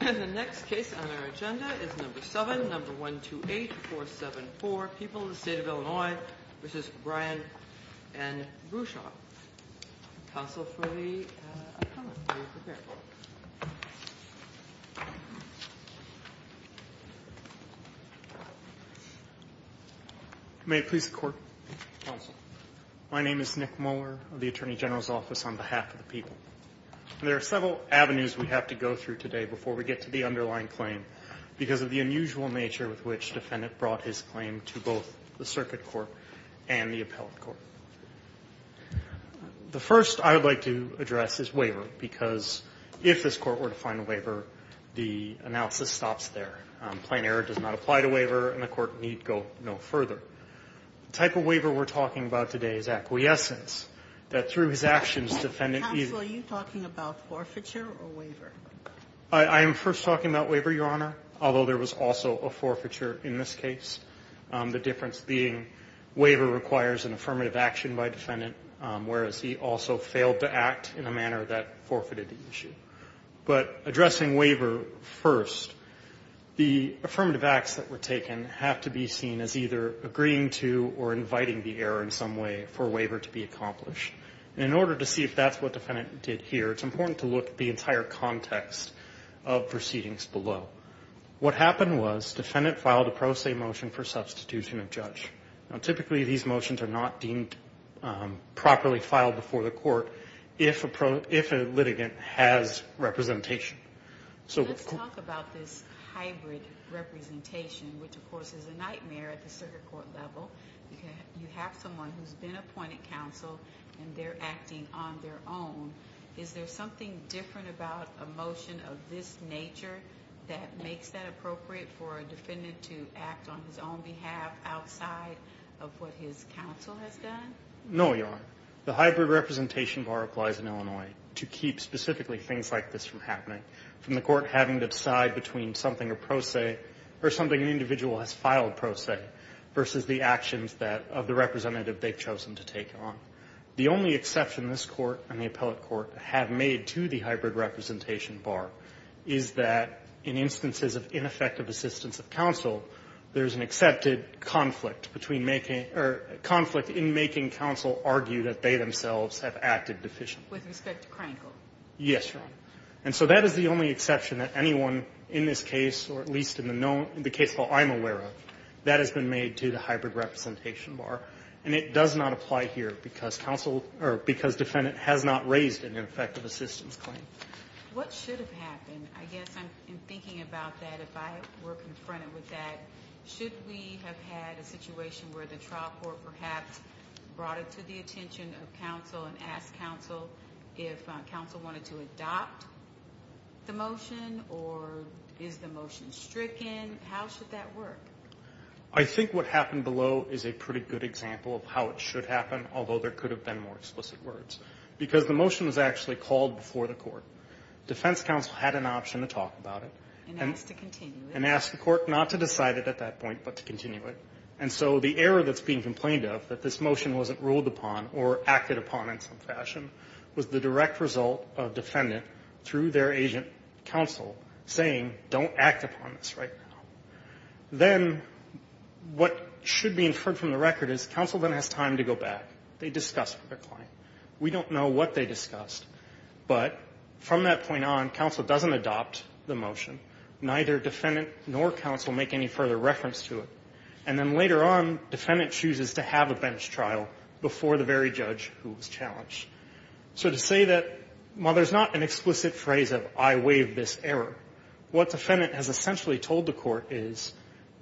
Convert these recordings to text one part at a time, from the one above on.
And the next case on our agenda is number seven, number one, two, eight, four, seven, four people in the state of Illinois, which is Brian and Brusaw. Council for the. May it please the court. My name is Nick Moeller of the Attorney General's office on behalf of the people. There are several avenues we have to go through today before we get to the underlying claim because of the unusual nature with which defendant brought his claim to both the circuit court and the appellate court. The first I would like to address is waiver, because if this court were to find a waiver, the analysis stops there. Plain error does not apply to waiver and the court need go no further. The type of waiver we're talking about today is acquiescence, that through his actions defendant either. Counsel, are you talking about forfeiture or waiver? I am first talking about waiver, Your Honor, although there was also a forfeiture in this case, the difference being waiver requires an affirmative action by defendant, whereas he also failed to act in a manner that forfeited the issue. But addressing waiver first, the affirmative acts that were taken have to be seen as either agreeing to or inviting the error in some way for waiver to be accomplished. And in order to see if that's what defendant did here, it's important to look at the entire context of proceedings below. What happened was defendant filed a pro se motion for substitution of judge. Typically these motions are not deemed properly filed before the court if a litigant has representation. Let's talk about this hybrid representation, which of course is a nightmare at the circuit court level. You have someone who's been appointed counsel and they're acting on their own. Is there something different about a motion of this nature that makes that appropriate for a defendant to act on his own behalf outside of what his counsel has done? No, Your Honor. The hybrid representation bar applies in Illinois to keep specifically things like this from happening, from the court having to decide between something a pro se or something an individual has filed pro se versus the actions of the representative they've chosen to take on. The only exception this court and the appellate court have made to the hybrid representation bar is that in instances of ineffective assistance of counsel, there's an accepted conflict between making or conflict in making counsel argue that they themselves have acted deficiently. With respect to Krankel? Yes, Your Honor. And so that is the only exception that anyone in this case, or at least in the case I'm aware of, that has been made to the hybrid representation bar. And it does not apply here because counsel or because defendant has not raised an ineffective assistance claim. What should have happened? I guess in thinking about that, if I were confronted with that, should we have had a situation where the trial court perhaps brought it to the attention of counsel and asked counsel if counsel wanted to adopt the motion or is the motion stricken? How should that work? I think what happened below is a pretty good example of how it should happen, although there could have been more explicit words. Because the motion was actually called before the court. Defense counsel had an option to talk about it. And ask to continue it. And ask the court not to decide it at that point but to continue it. And so the error that's being complained of, that this motion wasn't ruled upon or acted upon in some fashion, was the direct result of defendant through their agent counsel saying, don't act upon this right now. Then what should be inferred from the record is counsel then has time to go back. They discuss with their client. We don't know what they discussed. But from that point on, counsel doesn't adopt the motion. Neither defendant nor counsel make any further reference to it. And then later on, defendant chooses to have a bench trial before the very judge who was challenged. So to say that while there's not an explicit phrase of I waive this error, what defendant has essentially told the court is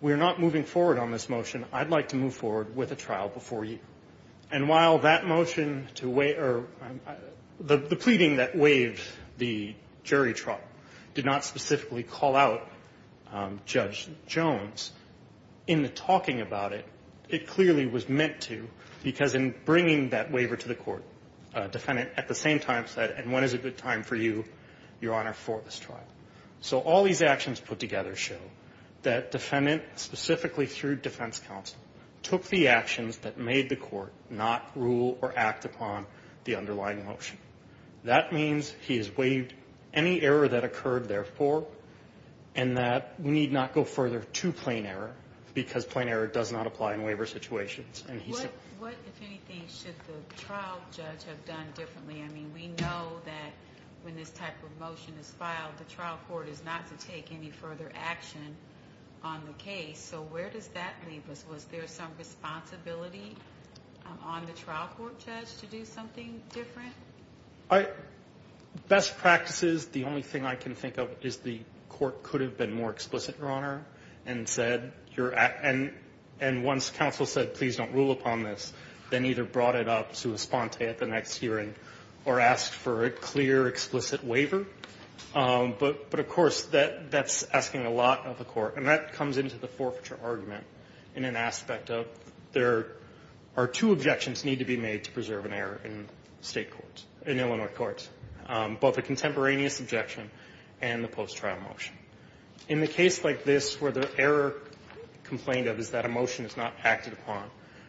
we're not moving forward on this motion. I'd like to move forward with a trial before you. And while that motion to waive or the pleading that waived the jury trial did not specifically call out Judge Jones in the talking about it, it clearly was meant to because in bringing that waiver to the court, defendant at the same time said, and when is a good time for you, Your Honor, for this trial? So all these actions put together show that defendant specifically through defense counsel took the actions that made the court not rule or act upon the underlying motion. That means he has waived any error that occurred, therefore, and that we need not go further to plain error because plain error does not apply in waiver situations. And he said... What, if anything, should the trial judge have done differently? I mean, we know that when this type of motion is filed, the trial court is not to take any further action on the case. So where does that leave us? Was there some responsibility on the trial court judge to do something different? Best practices, the only thing I can think of is the court could have been more explicit, Your Honor, and once counsel said, please don't rule upon this, then either brought it up to a sponte at the next hearing or asked for a clear, explicit waiver. But, of course, that's asking a lot of the court, and that comes into the forfeiture argument in an aspect of there are two objections need to be made to preserve an error in State courts, in Illinois courts, both the contemporaneous objection and the post-trial motion. In the case like this where the error complained of is that a motion is not acted upon,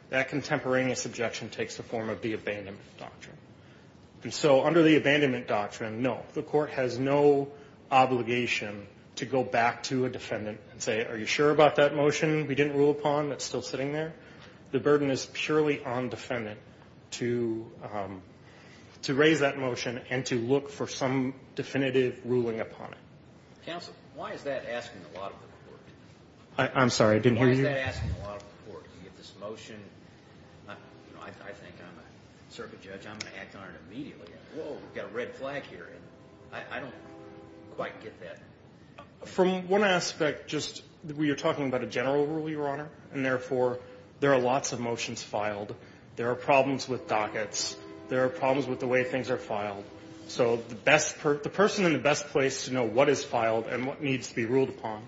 that contemporaneous objection takes the form of the abandonment doctrine. And so under the abandonment doctrine, no, the court has no obligation to go back to a defendant and say, are you sure about that motion we didn't rule upon that's still sitting there? The burden is purely on defendant to raise that motion and to look for some definitive ruling upon it. Counsel, why is that asking a lot of the court? I'm sorry, I didn't hear you. Why is that asking a lot of the court? You get this motion. I think I'm a circuit judge. I'm going to act on it immediately. Whoa, we've got a red flag here. I don't quite get that. From one aspect, just you're talking about a general rule, Your Honor, and therefore there are lots of motions filed. There are problems with dockets. There are problems with the way things are filed. So the person in the best place to know what is filed and what needs to be ruled upon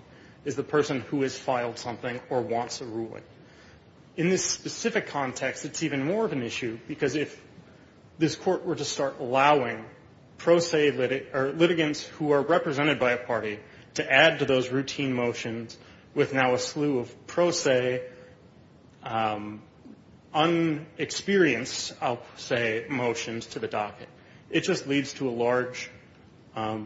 is the person who has filed something or wants a ruling. In this specific context, it's even more of an issue, because if this Court were to start allowing pro se litigants who are represented by a party to add to those routine motions with now a slew of pro se, unexperienced, I'll say, motions to the docket, it just leads to a large, a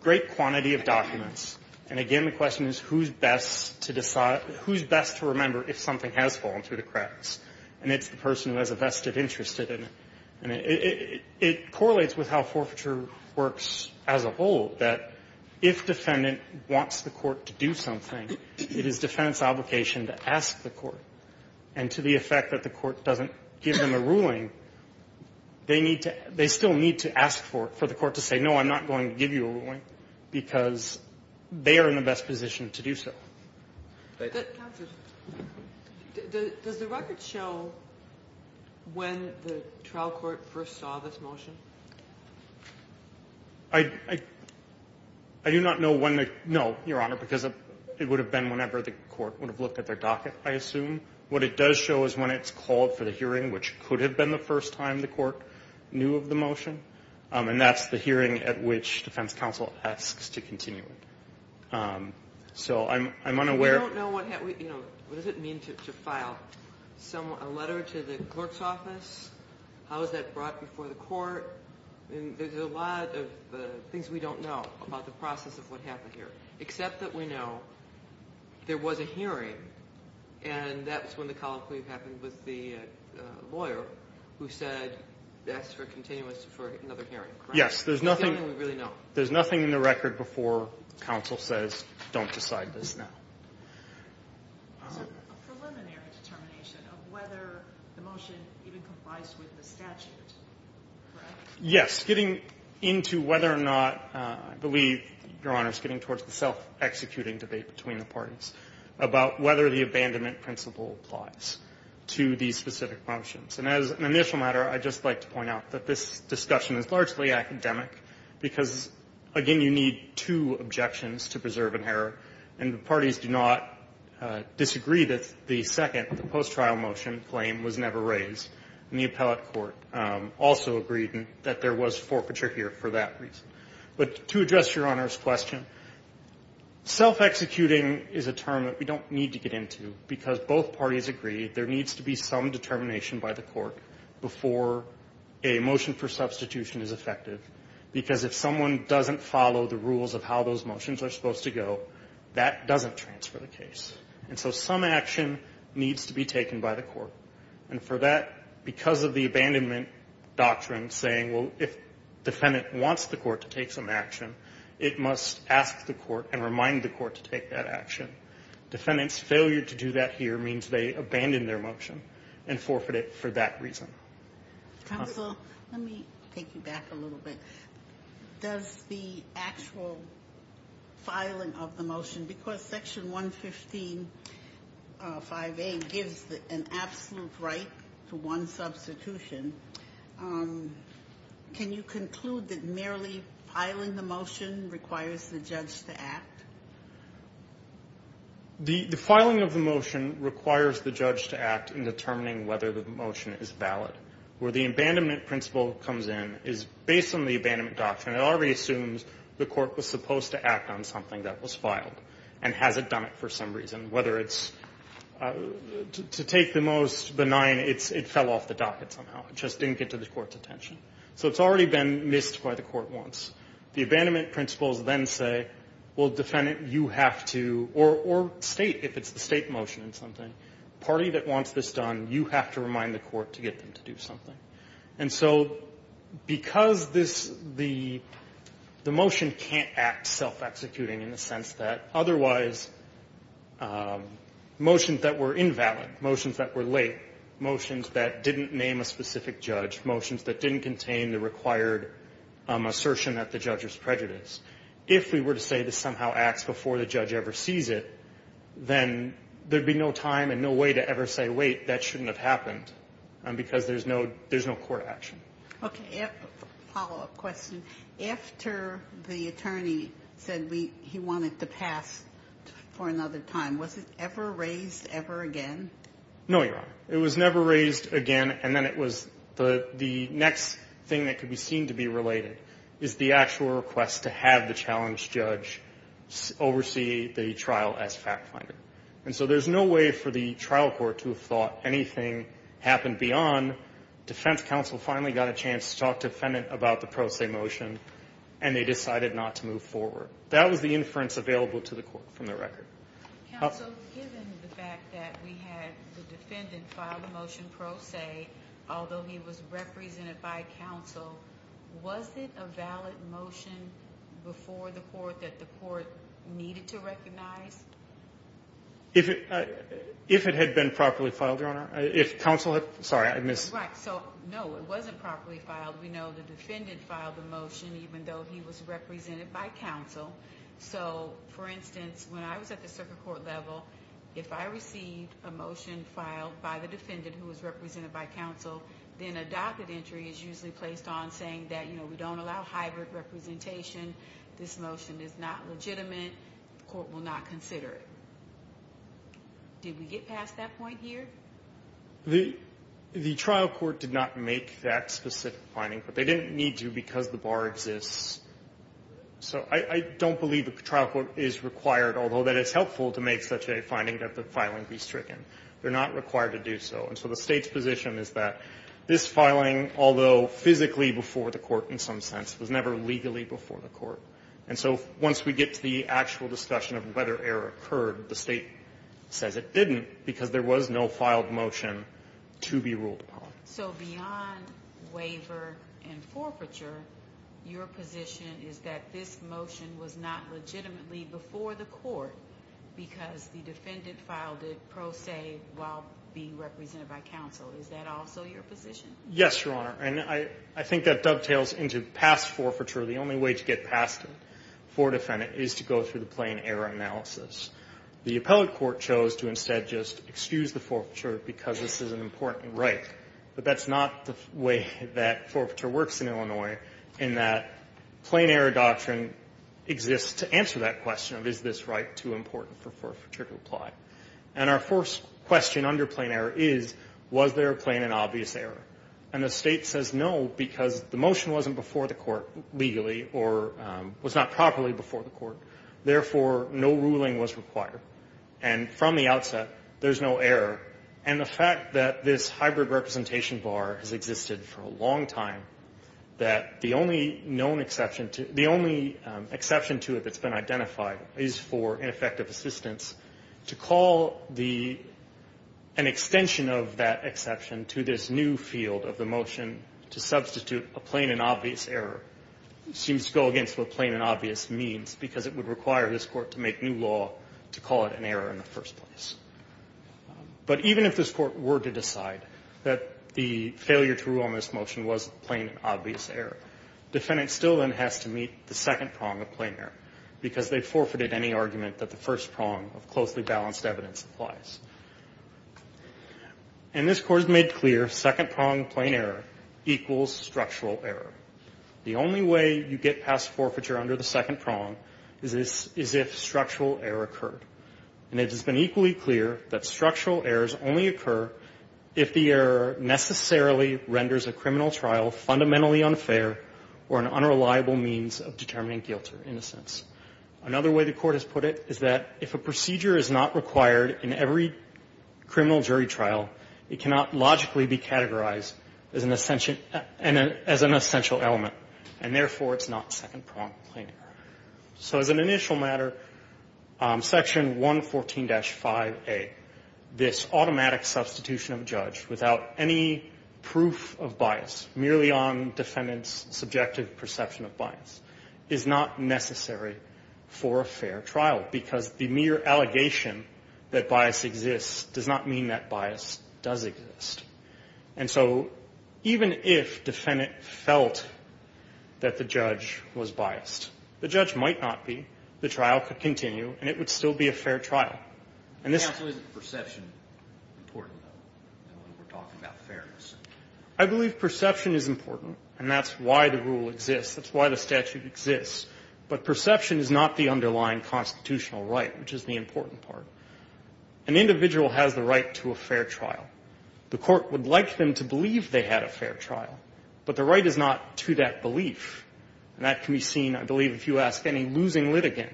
great quantity of documents. And again, the question is who's best to decide, who's best to remember if something has fallen through the cracks. And it's the person who has a vested interest in it. And it correlates with how forfeiture works as a whole, that if defendant wants the court to do something, it is defendant's obligation to ask the court. And to the effect that the court doesn't give them a ruling, they need to, they still need to ask for it, for the court to say, no, I'm not going to give you a ruling, because they are in the best position to do so. Thank you. Counsel, does the record show when the trial court first saw this motion? I do not know when the, no, Your Honor, because it would have been whenever the court would have looked at their docket, I assume. What it does show is when it's called for the hearing, which could have been the first time the court knew of the motion, and that's the hearing at which defense counsel asks to continue it. So I'm unaware. We don't know what, you know, what does it mean to file a letter to the clerk's office, how is that brought before the court? I mean, there's a lot of things we don't know about the process of what happened here, except that we know there was a hearing, and that's when the colloquy happened with the lawyer who said, asked for a continuous for another hearing. Yes, there's nothing. There's nothing we really know. There's nothing in the record before counsel says, don't decide this now. It's a preliminary determination of whether the motion even complies with the statute, correct? Yes, getting into whether or not, I believe, Your Honor, it's getting towards the self-executing debate between the parties about whether the abandonment principle applies to these specific motions. And as an initial matter, I'd just like to point out that this discussion is largely academic, because, again, you need two objections to preserve an error, and the parties do not disagree that the second, the post-trial motion claim was never raised, and the appellate court also agreed that there was forfeiture here for that reason. But to address Your Honor's question, self-executing is a term that we don't need to get into, because both parties agree there needs to be some determination by the court before a motion for substitution is effective, because if someone doesn't follow the rules of how those motions are supposed to go, that doesn't transfer the case. And so some action needs to be taken by the court. And for that, because of the abandonment doctrine saying, well, if defendant wants the court to take some action, it must ask the court and remind the court to take that action. Defendant's failure to do that here means they abandon their motion and forfeit it for that reason. Counsel, let me take you back a little bit. Does the actual filing of the motion, because Section 115 5A gives an absolute right to one substitution, can you conclude that merely filing the motion requires the judge to act? The filing of the motion requires the judge to act in determining whether the motion is valid. Where the abandonment principle comes in is based on the abandonment doctrine. It already assumes the court was supposed to act on something that was filed and hasn't done it for some reason, whether it's to take the most benign, it fell off the docket somehow. It just didn't get to the court's attention. So it's already been missed by the court once. The abandonment principles then say, well, defendant, you have to, or State, if it's the State motion and something, party that wants this done, you have to remind the court to get them to do something. And so because this, the motion can't act self-executing in the sense that otherwise motions that were invalid, motions that were late, motions that didn't name a specific judge, motions that didn't contain the required assertion at the judge's prejudice. If we were to say this somehow acts before the judge ever sees it, then there would be no time and no way to ever say, wait, that shouldn't have happened, because there's no court action. Okay. A follow-up question. After the attorney said he wanted to pass for another time, was it ever raised ever again? No, Your Honor. It was never raised again, and then it was the next thing that could be seen to be related is the actual request to have the challenged judge oversee the trial as fact finder. And so there's no way for the trial court to have thought anything happened beyond defense counsel finally got a chance to talk to defendant about the pro se motion, and they decided not to move forward. That was the inference available to the court from the record. Counsel, given the fact that we had the defendant file the motion pro se, although he was represented by counsel, was it a valid motion before the court that the court needed to recognize? If it had been properly filed, Your Honor. If counsel had been. Sorry, I missed. Right. So, no, it wasn't properly filed. We know the defendant filed the motion even though he was represented by counsel. So, for instance, when I was at the circuit court level, if I received a motion filed by the defendant who was represented by counsel, then a docket entry is usually placed on saying that, you know, we don't allow hybrid representation. This motion is not legitimate. The court will not consider it. Did we get past that point here? The trial court did not make that specific finding, but they didn't need to because the bar exists. So I don't believe the trial court is required, although that is helpful to make such a finding that the filing be stricken. They're not required to do so. And so the State's position is that this filing, although physically before the court in some sense, was never legally before the court. And so once we get to the actual discussion of whether error occurred, the State says it didn't because there was no filed motion to be ruled upon. So beyond waiver and forfeiture, your position is that this motion was not legitimately before the court because the defendant filed it pro se while being represented by counsel. Is that also your position? Yes, Your Honor. And I think that dovetails into past forfeiture. The only way to get past it for defendant is to go through the plain error analysis. The appellate court chose to instead just excuse the forfeiture because this is an important right. But that's not the way that forfeiture works in Illinois in that plain error doctrine exists to answer that question of is this right too important for forfeiture to apply. And our first question under plain error is, was there a plain and obvious error? And the State says no because the motion wasn't before the court legally or was not properly before the court. Therefore, no ruling was required. And from the outset, there's no error. And the fact that this hybrid representation bar has existed for a long time, that the only known exception to the only exception to it that's been identified is for ineffective assistance, to call the an extension of that exception to this new field of the motion to substitute a plain and obvious error seems to go against what plain and obvious means because it would require this court to make new law to call it an error in the first place. But even if this court were to decide that the failure to rule on this motion was plain and obvious error, defendant still then has to meet the second prong of plain error because they forfeited any argument that the first prong of closely balanced evidence applies. And this Court has made clear second prong of plain error equals structural error. The only way you get past forfeiture under the second prong is if structural error occurred. And it has been equally clear that structural errors only occur if the error necessarily renders a criminal trial fundamentally unfair or an unreliable means of determining guilt or innocence. Another way the Court has put it is that if a procedure is not required in every case, then it is an essential element, and therefore it's not second prong of plain error. So as an initial matter, Section 114-5A, this automatic substitution of a judge without any proof of bias, merely on defendant's subjective perception of bias, is not necessary for a fair trial because the mere allegation that bias exists does not mean that bias does exist. And so even if defendant felt that the judge was biased, the judge might not be, the trial could continue, and it would still be a fair trial. And this is the perception. I believe perception is important, and that's why the rule exists. That's why the statute exists. But perception is not the underlying constitutional right, which is the important An individual has the right to a fair trial. The Court would like them to believe they had a fair trial, but the right is not to that belief. And that can be seen, I believe, if you ask any losing litigant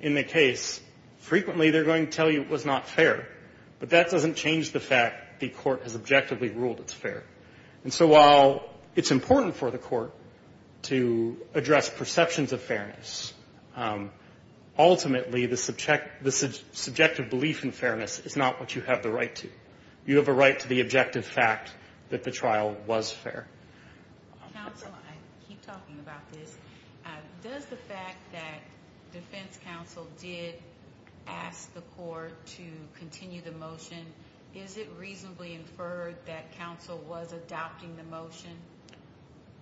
in the case, frequently they're going to tell you it was not fair. But that doesn't change the fact the Court has objectively ruled it's fair. And so while it's important for the Court to address perceptions of fairness, ultimately the subjective belief in fairness is not what you have the right to. You have a right to the objective fact that the trial was fair. Counsel, I keep talking about this. Does the fact that defense counsel did ask the Court to continue the motion, is it reasonably inferred that counsel was adopting the motion?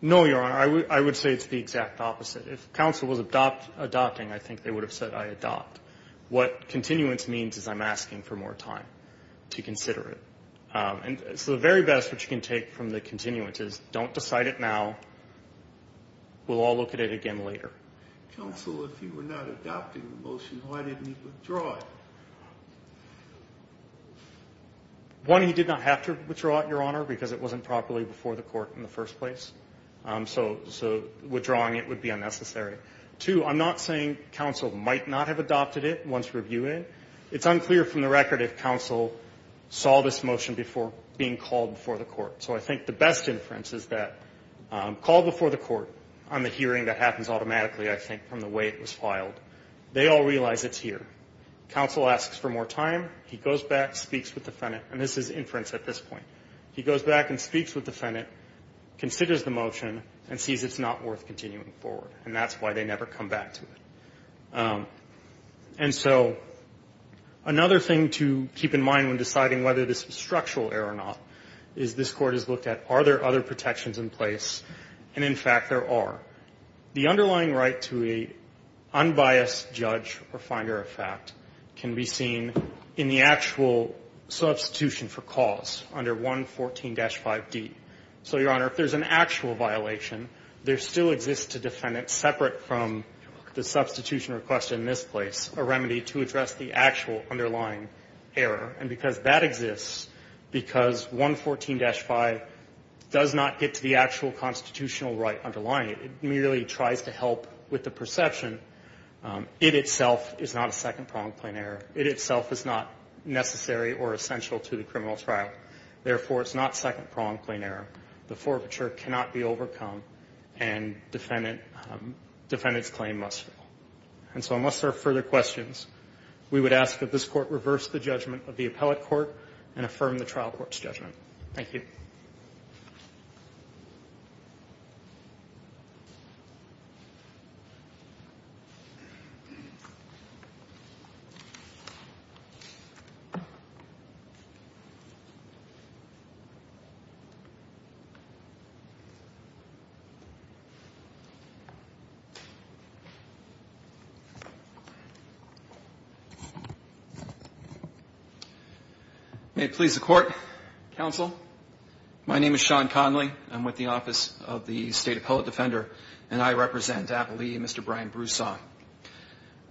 No, Your Honor. I would say it's the exact opposite. If counsel was adopting, I think they would have said I adopt. What continuance means is I'm asking for more time to consider it. So the very best which you can take from the continuance is don't decide it now. We'll all look at it again later. Counsel, if you were not adopting the motion, why didn't he withdraw it? One, he did not have to withdraw it, Your Honor, because it wasn't properly before the Court in the first place. So withdrawing it would be unnecessary. Two, I'm not saying counsel might not have adopted it once reviewed it. It's unclear from the record if counsel saw this motion before being called before the Court. So I think the best inference is that called before the Court on the hearing that happens automatically, I think, from the way it was filed, they all realize it's here. Counsel asks for more time. He goes back, speaks with the defendant, and this is inference at this point. He goes back and speaks with the defendant, considers the motion, and sees it's not worth continuing forward. And that's why they never come back to it. And so another thing to keep in mind when deciding whether this was structural error or not is this Court has looked at are there other protections in place, and, in fact, there are. The underlying right to an unbiased judge or finder of fact can be seen in the actual substitution for cause under 114-5D. So, Your Honor, if there's an actual violation, there still exists to defend it separate from the substitution requested in this place, a remedy to address the actual underlying error, and because that exists, because 114-5 does not get to the actual constitutional right underlying it. It merely tries to help with the perception. It itself is not a second-pronged plain error. It itself is not necessary or essential to the criminal trial. Therefore, it's not second-pronged plain error. The forfeiture cannot be overcome, and defendant's claim must fall. And so unless there are further questions, we would ask that this Court reverse the judgment of the appellate court and affirm the trial court's judgment. Thank you. May it please the Court, counsel. My name is Sean Connolly. I'm with the Office of the State Appellate Defender, and I represent Appalachia, Mr. Brian Broussard.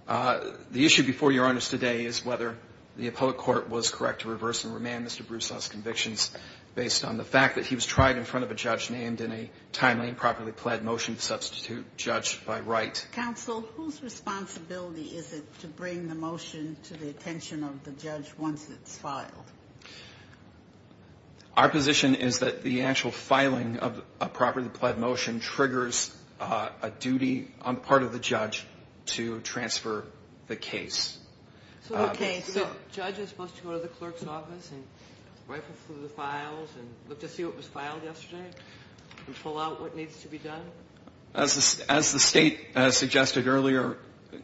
The issue before Your Honor today is whether the appellate court was correct to reverse and remand Mr. Broussard's convictions based on the fact that he was tried in front of a judge named in a timely and properly pled motion to substitute judge by right. Counsel, whose responsibility is it to bring the motion to the attention of the judge once it's filed? Our position is that the actual filing of a properly pled motion triggers a duty on part of the judge to transfer the case. So the judge is supposed to go to the clerk's office and rifle through the files and look to see what was filed yesterday and pull out what needs to be done? As the State has suggested earlier,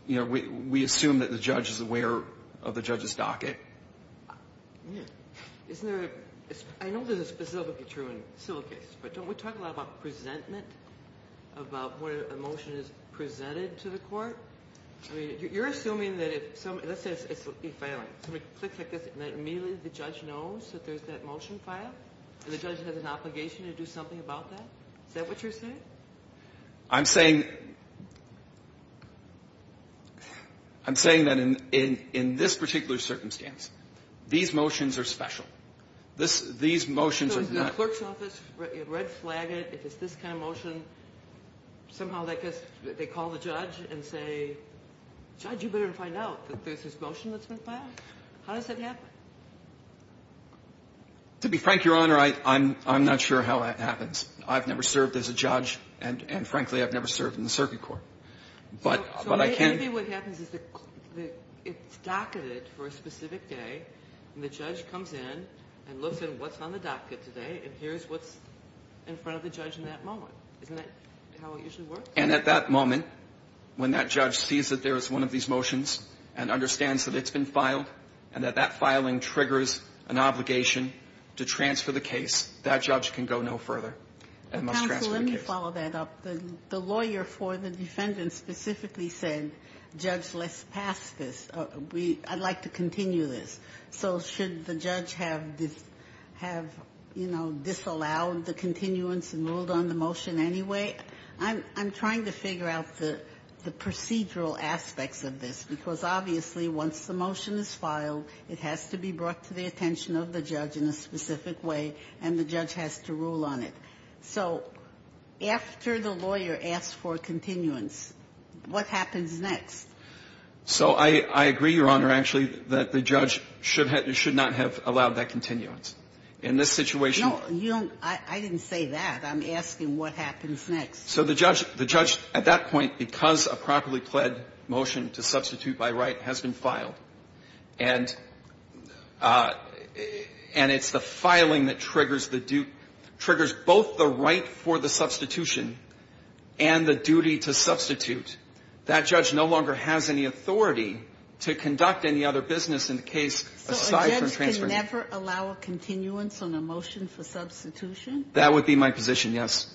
you know, we assume that the judge is aware of the judge's docket. Isn't there a – I know this is specifically true in civil cases, but don't we talk a lot about presentment, about when a motion is presented to the court? I mean, you're assuming that if some – let's say it's a filing. Somebody clicks like this and immediately the judge knows that there's that motion filed and the judge has an obligation to do something about that? Is that what you're saying? I'm saying – I'm saying that in this particular circumstance, these motions are special. These motions are not – So if it's in the clerk's office, red flag it, if it's this kind of motion, somehow they call the judge and say, Judge, you better find out that there's this motion that's been filed. How does that happen? To be frank, Your Honor, I'm not sure how that happens. I've never served as a judge and, frankly, I've never served in the circuit court. But I can – So maybe what happens is it's docketed for a specific day and the judge comes in and looks at what's on the docket today and hears what's in front of the judge in that moment. Isn't that how it usually works? And at that moment, when that judge sees that there is one of these motions and understands that it's been filed and that that filing triggers an obligation to transfer the case, that judge can go no further and must transfer the case. Counsel, let me follow that up. The lawyer for the defendant specifically said, Judge, let's pass this. We – I'd like to continue this. So should the judge have, you know, disallowed the continuance and ruled on the motion anyway? I'm trying to figure out the procedural aspects of this, because obviously once the motion is filed, it has to be brought to the attention of the judge in a specific way, and the judge has to rule on it. So after the lawyer asks for continuance, what happens next? So I agree, Your Honor, actually, that the judge should have – should not have allowed that continuance. In this situation – No, you don't – I didn't say that. I'm asking what happens next. So the judge – the judge, at that point, because a properly pled motion to substitute by right has been filed, and – and it's the filing that triggers the due – triggers both the right for the substitution and the duty to substitute, that judge no longer has any authority to conduct any other business in the case aside from transferring – So a judge can never allow a continuance on a motion for substitution? That would be my position, yes.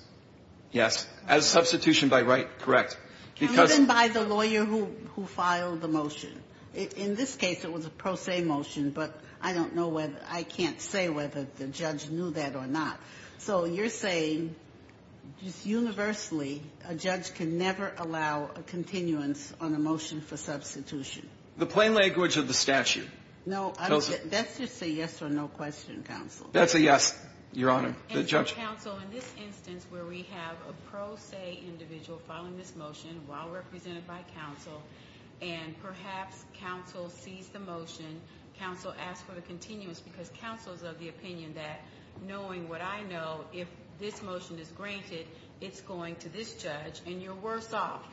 Yes. As a substitution by right, correct. Because – Even by the lawyer who – who filed the motion? In this case, it was a pro se motion, but I don't know whether – I can't say whether the judge knew that or not. So you're saying, just universally, a judge can never allow a continuance on a motion for substitution? The plain language of the statute tells us – No, that's just a yes or no question, Counsel. That's a yes, Your Honor. The judge – Counsel, in this instance where we have a pro se individual filing this motion while represented by counsel, and perhaps counsel sees the motion, counsel asks for the continuance because counsel's of the opinion that, knowing what I know, if this motion is granted, it's going to this judge, and you're worse off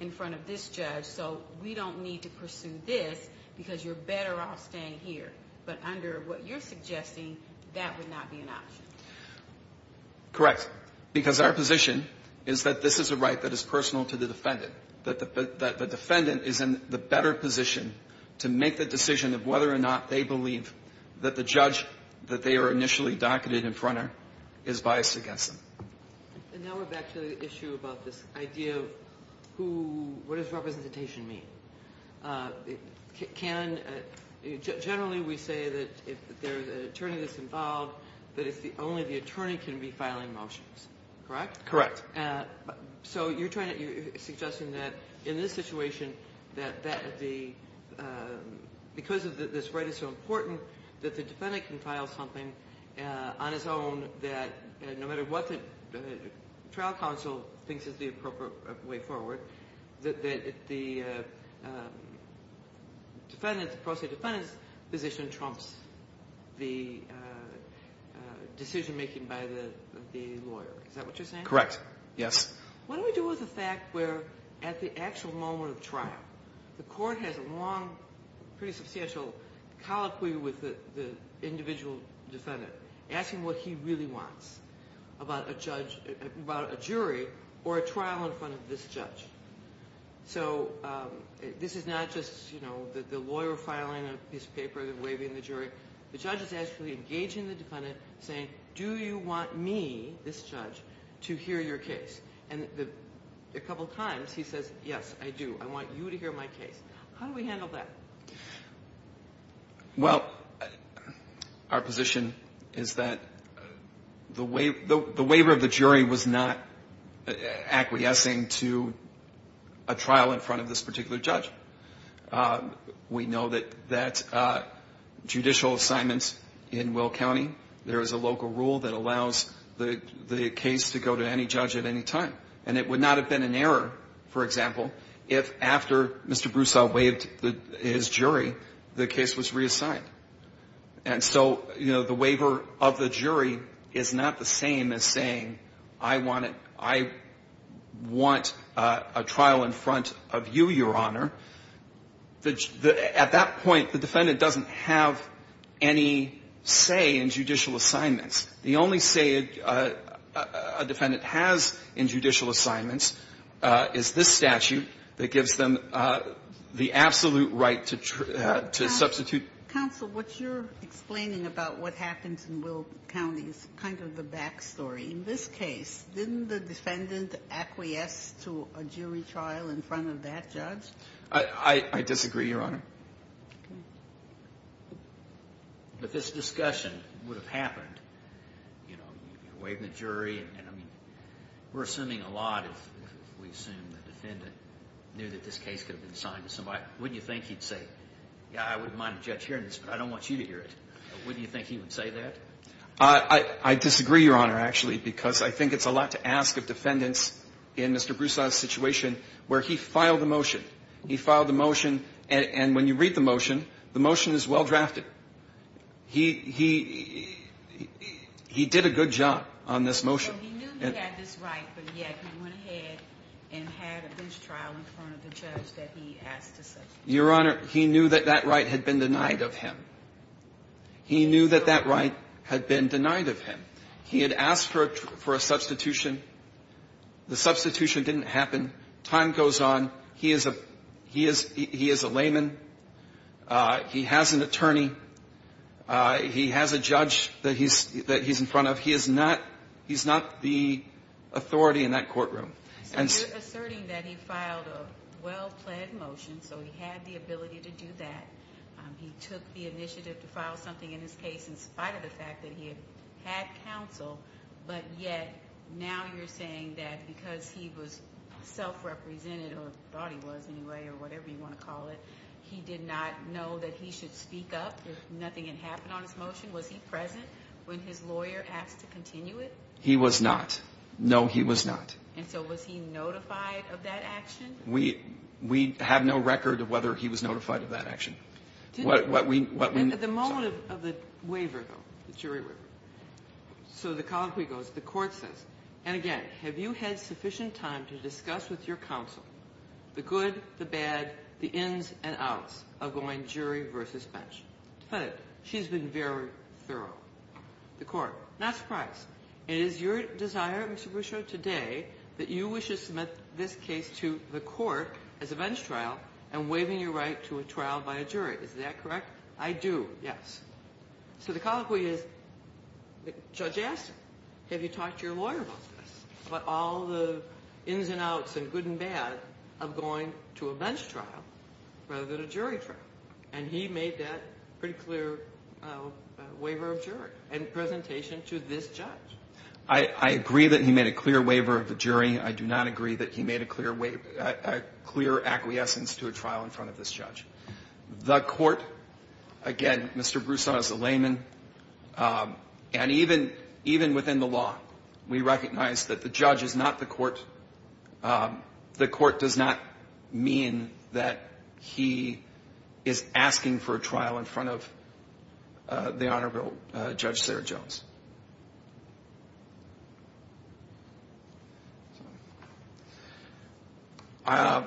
in front of this judge, so we don't need to pursue this because you're better off staying here. But under what you're suggesting, that would not be an option. Correct. Because our position is that this is a right that is personal to the defendant. That the defendant is in the better position to make the decision of whether or not they believe that the judge that they are initially docketed in front of is biased against them. And now we're back to the issue about this idea of who – what does representation mean? Can – generally we say that if there's an attorney that's involved, that only the attorney can be filing motions, correct? Correct. So you're trying to – you're suggesting that in this situation that the – because this right is so important that the defendant can file something on his own that no matter what the trial counsel thinks is the appropriate way forward, that the defendant's – the pro se defendant's position trumps the decision making Correct. Yes. What do we do with the fact where at the actual moment of the trial, the court has a long, pretty substantial colloquy with the individual defendant, asking what he really wants about a judge – about a jury or a trial in front of this judge. So this is not just, you know, the lawyer filing a piece of paper and waiving the jury. The judge is actually engaging the defendant, saying, do you want me, this judge, to hear your case? And a couple times he says, yes, I do. I want you to hear my case. How do we handle that? Well, our position is that the waiver of the jury was not acquiescing to a trial in front of this particular judge. We know that judicial assignments in Will County, there is a local rule that allows the case to go to any judge at any time. And it would not have been an error, for example, if after Mr. Broussard waived his jury, the case was reassigned. And so, you know, the waiver of the jury is not the same as saying, I want a trial in front of you, Your Honor. At that point, the defendant doesn't have any say in judicial assignments. The only say a defendant has in judicial assignments is this statute that gives them the absolute right to substitute. Counsel, what you're explaining about what happens in Will County is kind of the back story in this case. Didn't the defendant acquiesce to a jury trial in front of that judge? I disagree, Your Honor. Okay. But this discussion would have happened, you know, waiving the jury. And, I mean, we're assuming a lot if we assume the defendant knew that this case could have been assigned to somebody. Wouldn't you think he'd say, yeah, I wouldn't mind a judge hearing this, but I don't want you to hear it. Wouldn't you think he would say that? I disagree, Your Honor, actually, because I think it's a lot to ask of defendants in Mr. Broussard's situation where he filed a motion. He filed a motion, and when you read the motion, the motion is well drafted. He did a good job on this motion. Well, he knew he had this right, but yet he went ahead and had a bench trial in front of the judge that he asked to substitute. Your Honor, he knew that that right had been denied of him. He knew that that right had been denied of him. He had asked for a substitution. The substitution didn't happen. Time goes on. He is a layman. He has an attorney. He has a judge that he's in front of. He is not the authority in that courtroom. So you're asserting that he filed a well-planned motion, so he had the ability to do that. He took the initiative to file something in his case in spite of the fact that he had counsel, but yet now you're saying that because he was self-represented, or thought he was anyway, or whatever you want to call it, he did not know that he should speak up if nothing had happened on his motion? Was he present when his lawyer asked to continue it? He was not. No, he was not. And so was he notified of that action? We have no record of whether he was notified of that action. What we saw at the moment of the waiver, though, the jury waiver, so the colloquy goes, the Court says, and again, have you had sufficient time to discuss with your counsel the good, the bad, the ins and outs of going jury versus bench? She's been very thorough. The Court, not surprised. It is your desire, Mr. Boucher, today that you wish to submit this case to the Court as a bench trial and waiving your right to a trial by a jury. Is that correct? I do, yes. So the colloquy is, Judge Astin, have you talked to your lawyer about this, about all the ins and outs and good and bad of going to a bench trial rather than a jury trial? And he made that pretty clear waiver of jury and presentation to this judge. I agree that he made a clear waiver of the jury. I do not agree that he made a clear acquiescence to a trial in front of this judge. The Court, again, Mr. Broussard is a layman. And even within the law, we recognize that the judge is not the Court. The Court does not mean that he is asking for a trial in front of the Honorable Judge Sarah Jones. I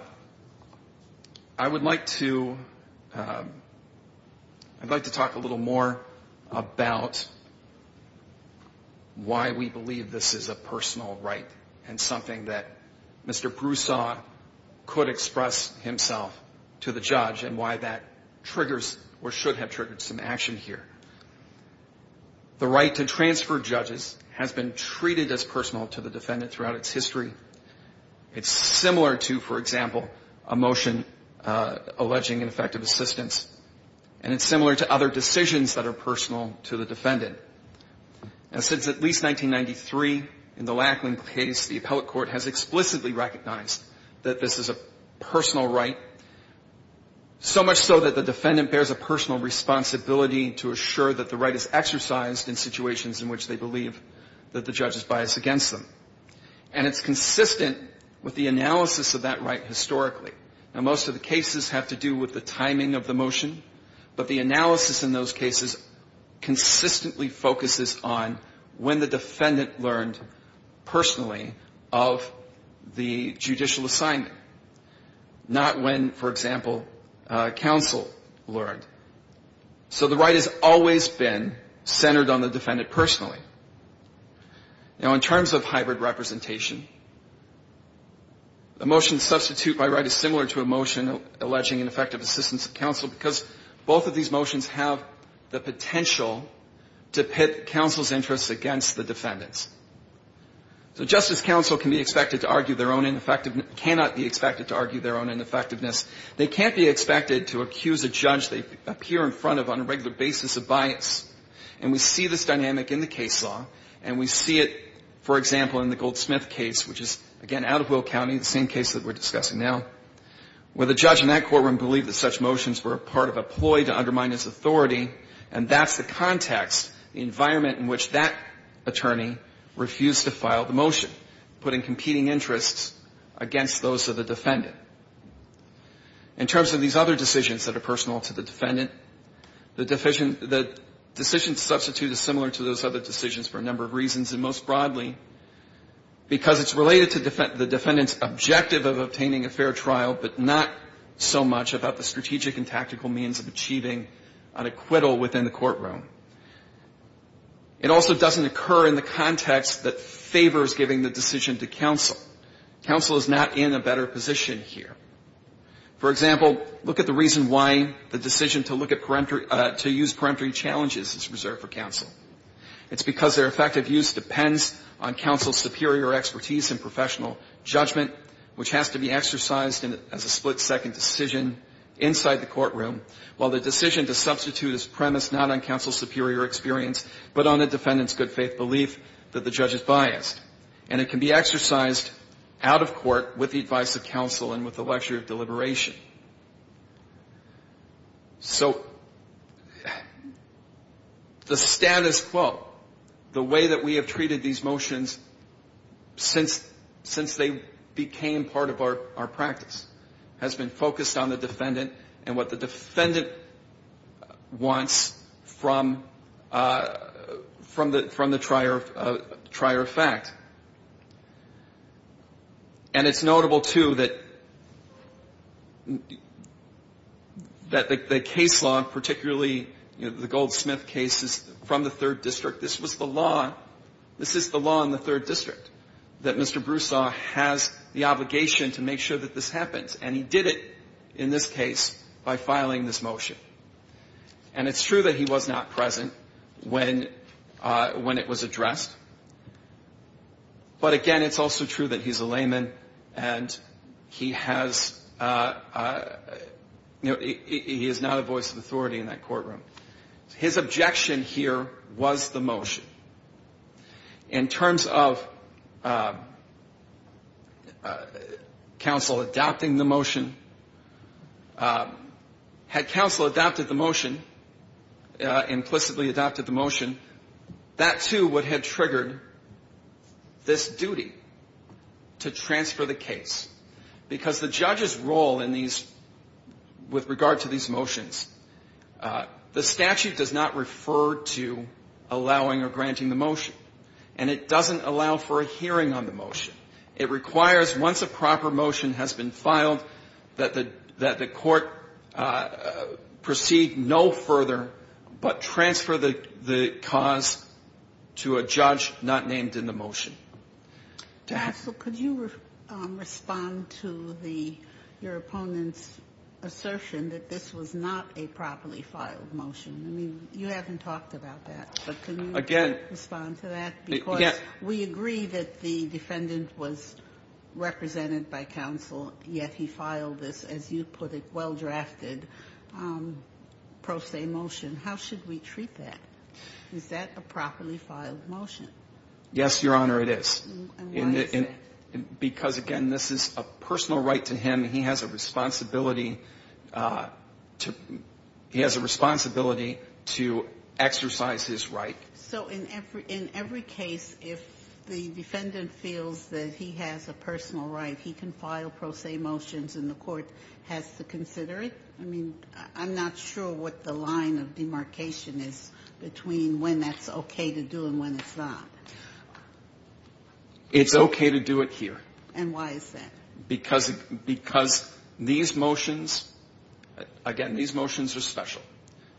would like to talk a little more about why we believe this is a personal right and something that Mr. Broussard could express himself to the judge and why that triggers or should have triggered some action here. The right to transfer judges has been treated as personal to the defendant throughout its history. It's similar to, for example, a motion alleging ineffective assistance. And it's similar to other decisions that are personal to the defendant. Since at least 1993, in the Lackland case, the appellate court has explicitly recognized that this is a personal right, so much so that the defendant bears a personal responsibility to assure that the right is exercised in situations in which they believe that the judge is biased against them. And it's consistent with the analysis of that right historically. Now, most of the cases have to do with the timing of the motion, but the analysis in those cases consistently focuses on when the defendant learned personally of the judicial assignment, not when, for example, counsel learned. So the right has always been centered on the defendant personally. Now, in terms of hybrid representation, a motion to substitute by right is similar to a motion alleging ineffective assistance of counsel, because both of these motions have the potential to pit counsel's interests against the defendant's. So Justice Counsel can be expected to argue their own ineffectiveness, cannot be expected to argue their own ineffectiveness. They can't be expected to accuse a judge they appear in front of on a regular basis of bias. And we see this dynamic in the case law, and we see it, for example, in the Goldsmith case, which is, again, out of Will County, the same case that we're discussing now, where the judge in that courtroom believed that such motions were a part of a ploy to undermine his authority, and that's the context, the environment in which that attorney refused to file the motion, putting competing interests against those of the defendant. In terms of these other decisions that are personal to the defendant, the decision to substitute is similar to those other decisions for a number of reasons, and most broadly, because it's related to the defendant's objective of obtaining a fair trial, but not so much about the strategic and tactical means of achieving an acquittal within the courtroom. It also doesn't occur in the context that favors giving the decision to counsel. Counsel is not in a better position here. For example, look at the reason why the decision to look at peremptory to use peremptory challenges is reserved for counsel. It's because their effective use depends on counsel's superior expertise in professional judgment, which has to be exercised as a split-second decision inside the courtroom, while the decision to substitute is premised not on counsel's superior experience, but on the defendant's good-faith belief that the judge is biased. And it can be exercised out of court with the advice of counsel and with the lecture of deliberation. So the status quo, the way that we have treated these motions since they became part of our practice, has been focused on the defendant and what the defendant wants from the trier of fact. And it's notable, too, that the case law, particularly the Goldsmith case, is from the third district. This was the law. This is the law in the third district, that Mr. Broussard has the obligation to make sure that this happens. And he did it in this case by filing this motion. And it's true that he was not present when it was addressed. But, again, it's also true that he's a layman and he has, you know, he is not a voice of authority in that courtroom. His objection here was the motion. In terms of counsel adopting the motion, had counsel adopted the motion, implicitly that, too, would have triggered this duty to transfer the case. Because the judge's role in these, with regard to these motions, the statute does not refer to allowing or granting the motion. And it doesn't allow for a hearing on the motion. It requires, once a proper motion has been filed, that the court proceed no further but to transfer the cause to a judge not named in the motion. Counsel, could you respond to your opponent's assertion that this was not a properly filed motion? I mean, you haven't talked about that. But can you respond to that? Because we agree that the defendant was represented by counsel, yet he filed this, as you put it, well-drafted pro se motion. How should we treat that? Is that a properly filed motion? Yes, Your Honor, it is. And why is that? Because, again, this is a personal right to him. He has a responsibility to exercise his right. So in every case, if the defendant feels that he has a personal right, he can file pro se motions and the court has to consider it? I mean, I'm not sure what the line of demarcation is between when that's okay to do and when it's not. It's okay to do it here. And why is that? Because these motions, again, these motions are special.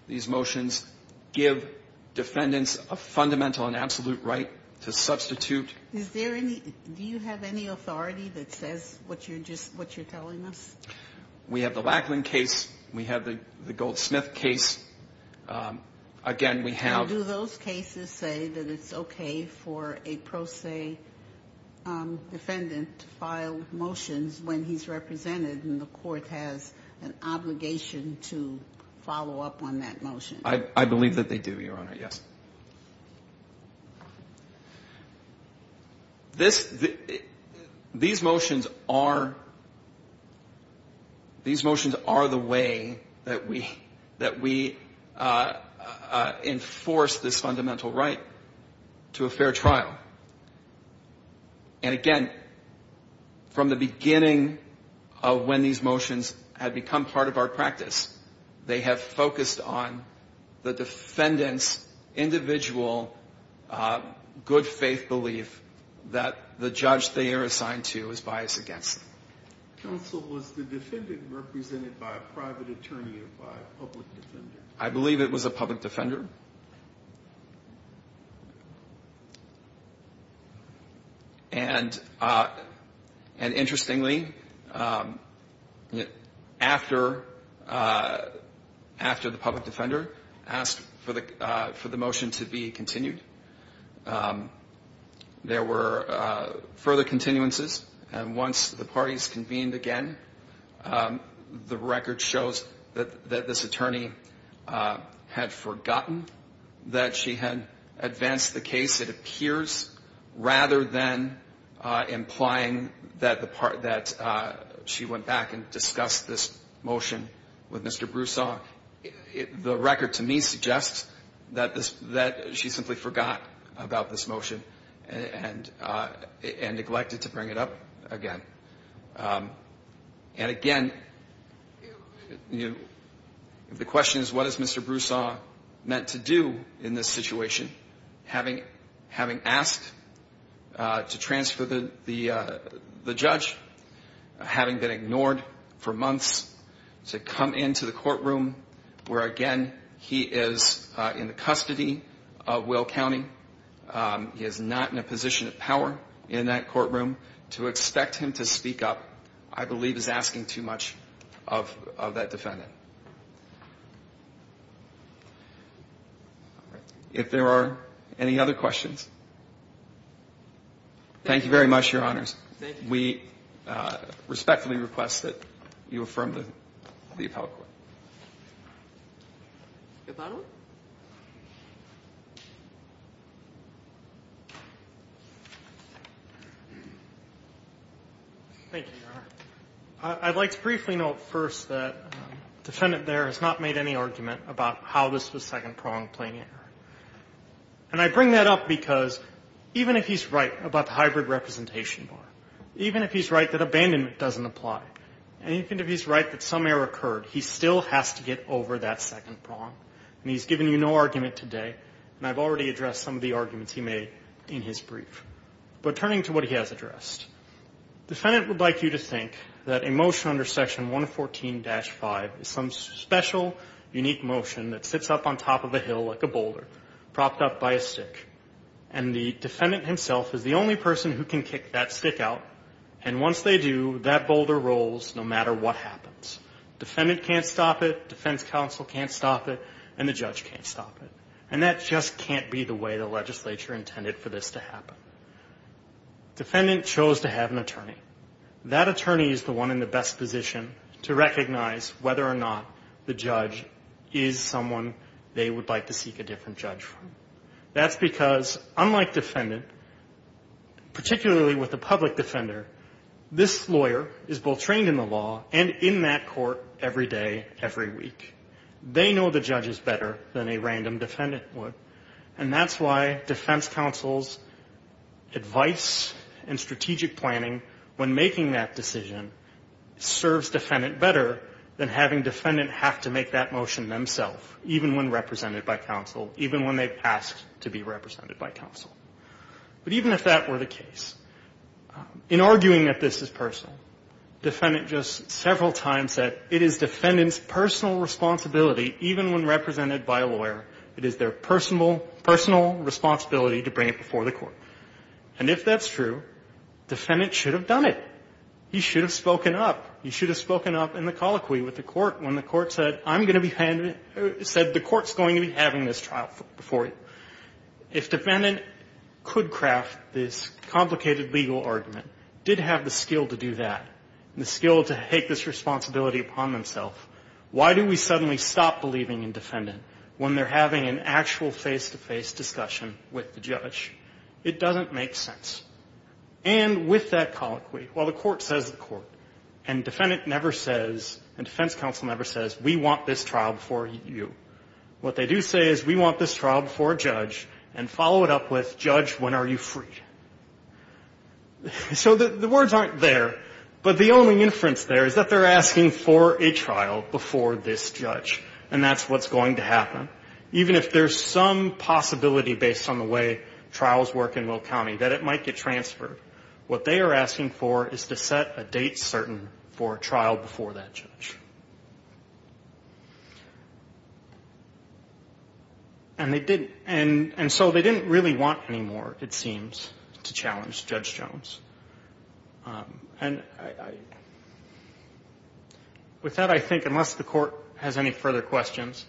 These motions give defendants a fundamental and absolute right to substitute Is there any, do you have any authority that says what you're just, what you're telling us? We have the Lackland case. We have the Goldsmith case. Again, we have And do those cases say that it's okay for a pro se defendant to file motions when he's represented and the court has an obligation to follow up on that motion? I believe that they do, Your Honor, yes. This, these motions are, these motions are the way that we, that we enforce this fundamental right to a fair trial. And again, from the beginning of when these motions have become part of our practice, they have focused on the defendant's individual good faith belief that the judge they are assigned to is biased against them. Counsel, was the defendant represented by a private attorney or by a public defender? I believe it was a public defender. And, and interestingly, after, after the public defender asked for the, for the motion to be continued, there were further continuances. And once the parties convened again, the record shows that this attorney had forgotten that the she had advanced the case, it appears, rather than implying that the part that she went back and discussed this motion with Mr. Broussard. The record to me suggests that this, that she simply forgot about this motion and, and neglected to bring it up again. And again, the question is, what is Mr. Broussard meant to do? In this situation, having, having asked to transfer the, the, the judge, having been ignored for months to come into the courtroom, where again, he is in the custody of Will County. He is not in a position of power in that courtroom to expect him to speak up, I believe is asking too much of that defendant. All right. If there are any other questions, thank you very much, Your Honors. We respectfully request that you affirm the, the appellate court. Thank you, Your Honor. I'd like to briefly note first that the defendant there has not made any argument about how this was second pronged plain error. And I bring that up because even if he's right about the hybrid representation bar, even if he's right that abandonment doesn't apply, and even if he's right that some error occurred, he still has to get over that second prong, and he's given you no argument today, and I've already addressed some of the arguments he made in his brief. But turning to what he has addressed, defendant would like you to think that a motion under section 114-5 is some special, unique motion that sits up on top of a hill like a boulder, propped up by a stick, and the defendant himself is the only person who can kick that stick out, and once they do, that boulder rolls no matter what happens. Defendant can't stop it, defense counsel can't stop it, and the judge can't stop it. And that just can't be the way the legislature intended for this to happen. Defendant chose to have an attorney. That attorney is the one in the best position to recognize whether or not the judge is someone they would like to seek a different judge from. That's because unlike defendant, particularly with a public defender, this lawyer is both trained in the law and in that court every day, every week. They know the judges better than a random defendant would, and that's why defense counsel's advice and strategic planning when making that decision serves defendant better than having defendant have to make that motion themselves, even when represented by counsel, even when they've asked to be represented by counsel. But even if that were the case, in arguing that this is personal, defendant just said several times that it is defendant's personal responsibility, even when represented by a lawyer, it is their personal responsibility to bring it before the court. And if that's true, defendant should have done it. He should have spoken up. He should have spoken up in the colloquy with the court when the court said, I'm going to be handing it, said the court's going to be having this trial before you. If defendant could craft this complicated legal argument, did have the skill to do that, the skill to take this responsibility upon themselves, why do we suddenly stop believing in defendant when they're having an actual face-to-face discussion with the judge? It doesn't make sense. And with that colloquy, while the court says the court, and defendant never says, and defense counsel never says, we want this trial before you, what they do say is, we want this trial before a judge, and follow it up with, judge, when are you free? So the words aren't there, but the only inference there is that they're asking for a trial before this judge, and that's what's going to happen, even if there's some possibility based on the way trials work in Will County that it might get transferred. What they are asking for is to set a date certain for a trial before that judge. And they didn't, and so they didn't really want any more, it seems, to challenge Judge Jones. And with that, I think, unless the court has any further questions,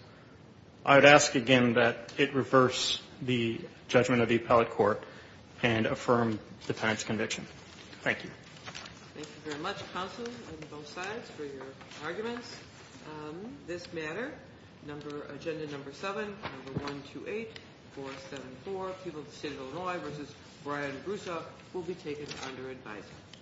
I would ask again that it reverse the judgment of the appellate court and affirm the defendant's conviction. Thank you. Thank you very much, counsel, on both sides, for your arguments on this matter. Agenda number seven, number 128474, people of the state of Illinois versus Brian Brousseau will be taken under advisory.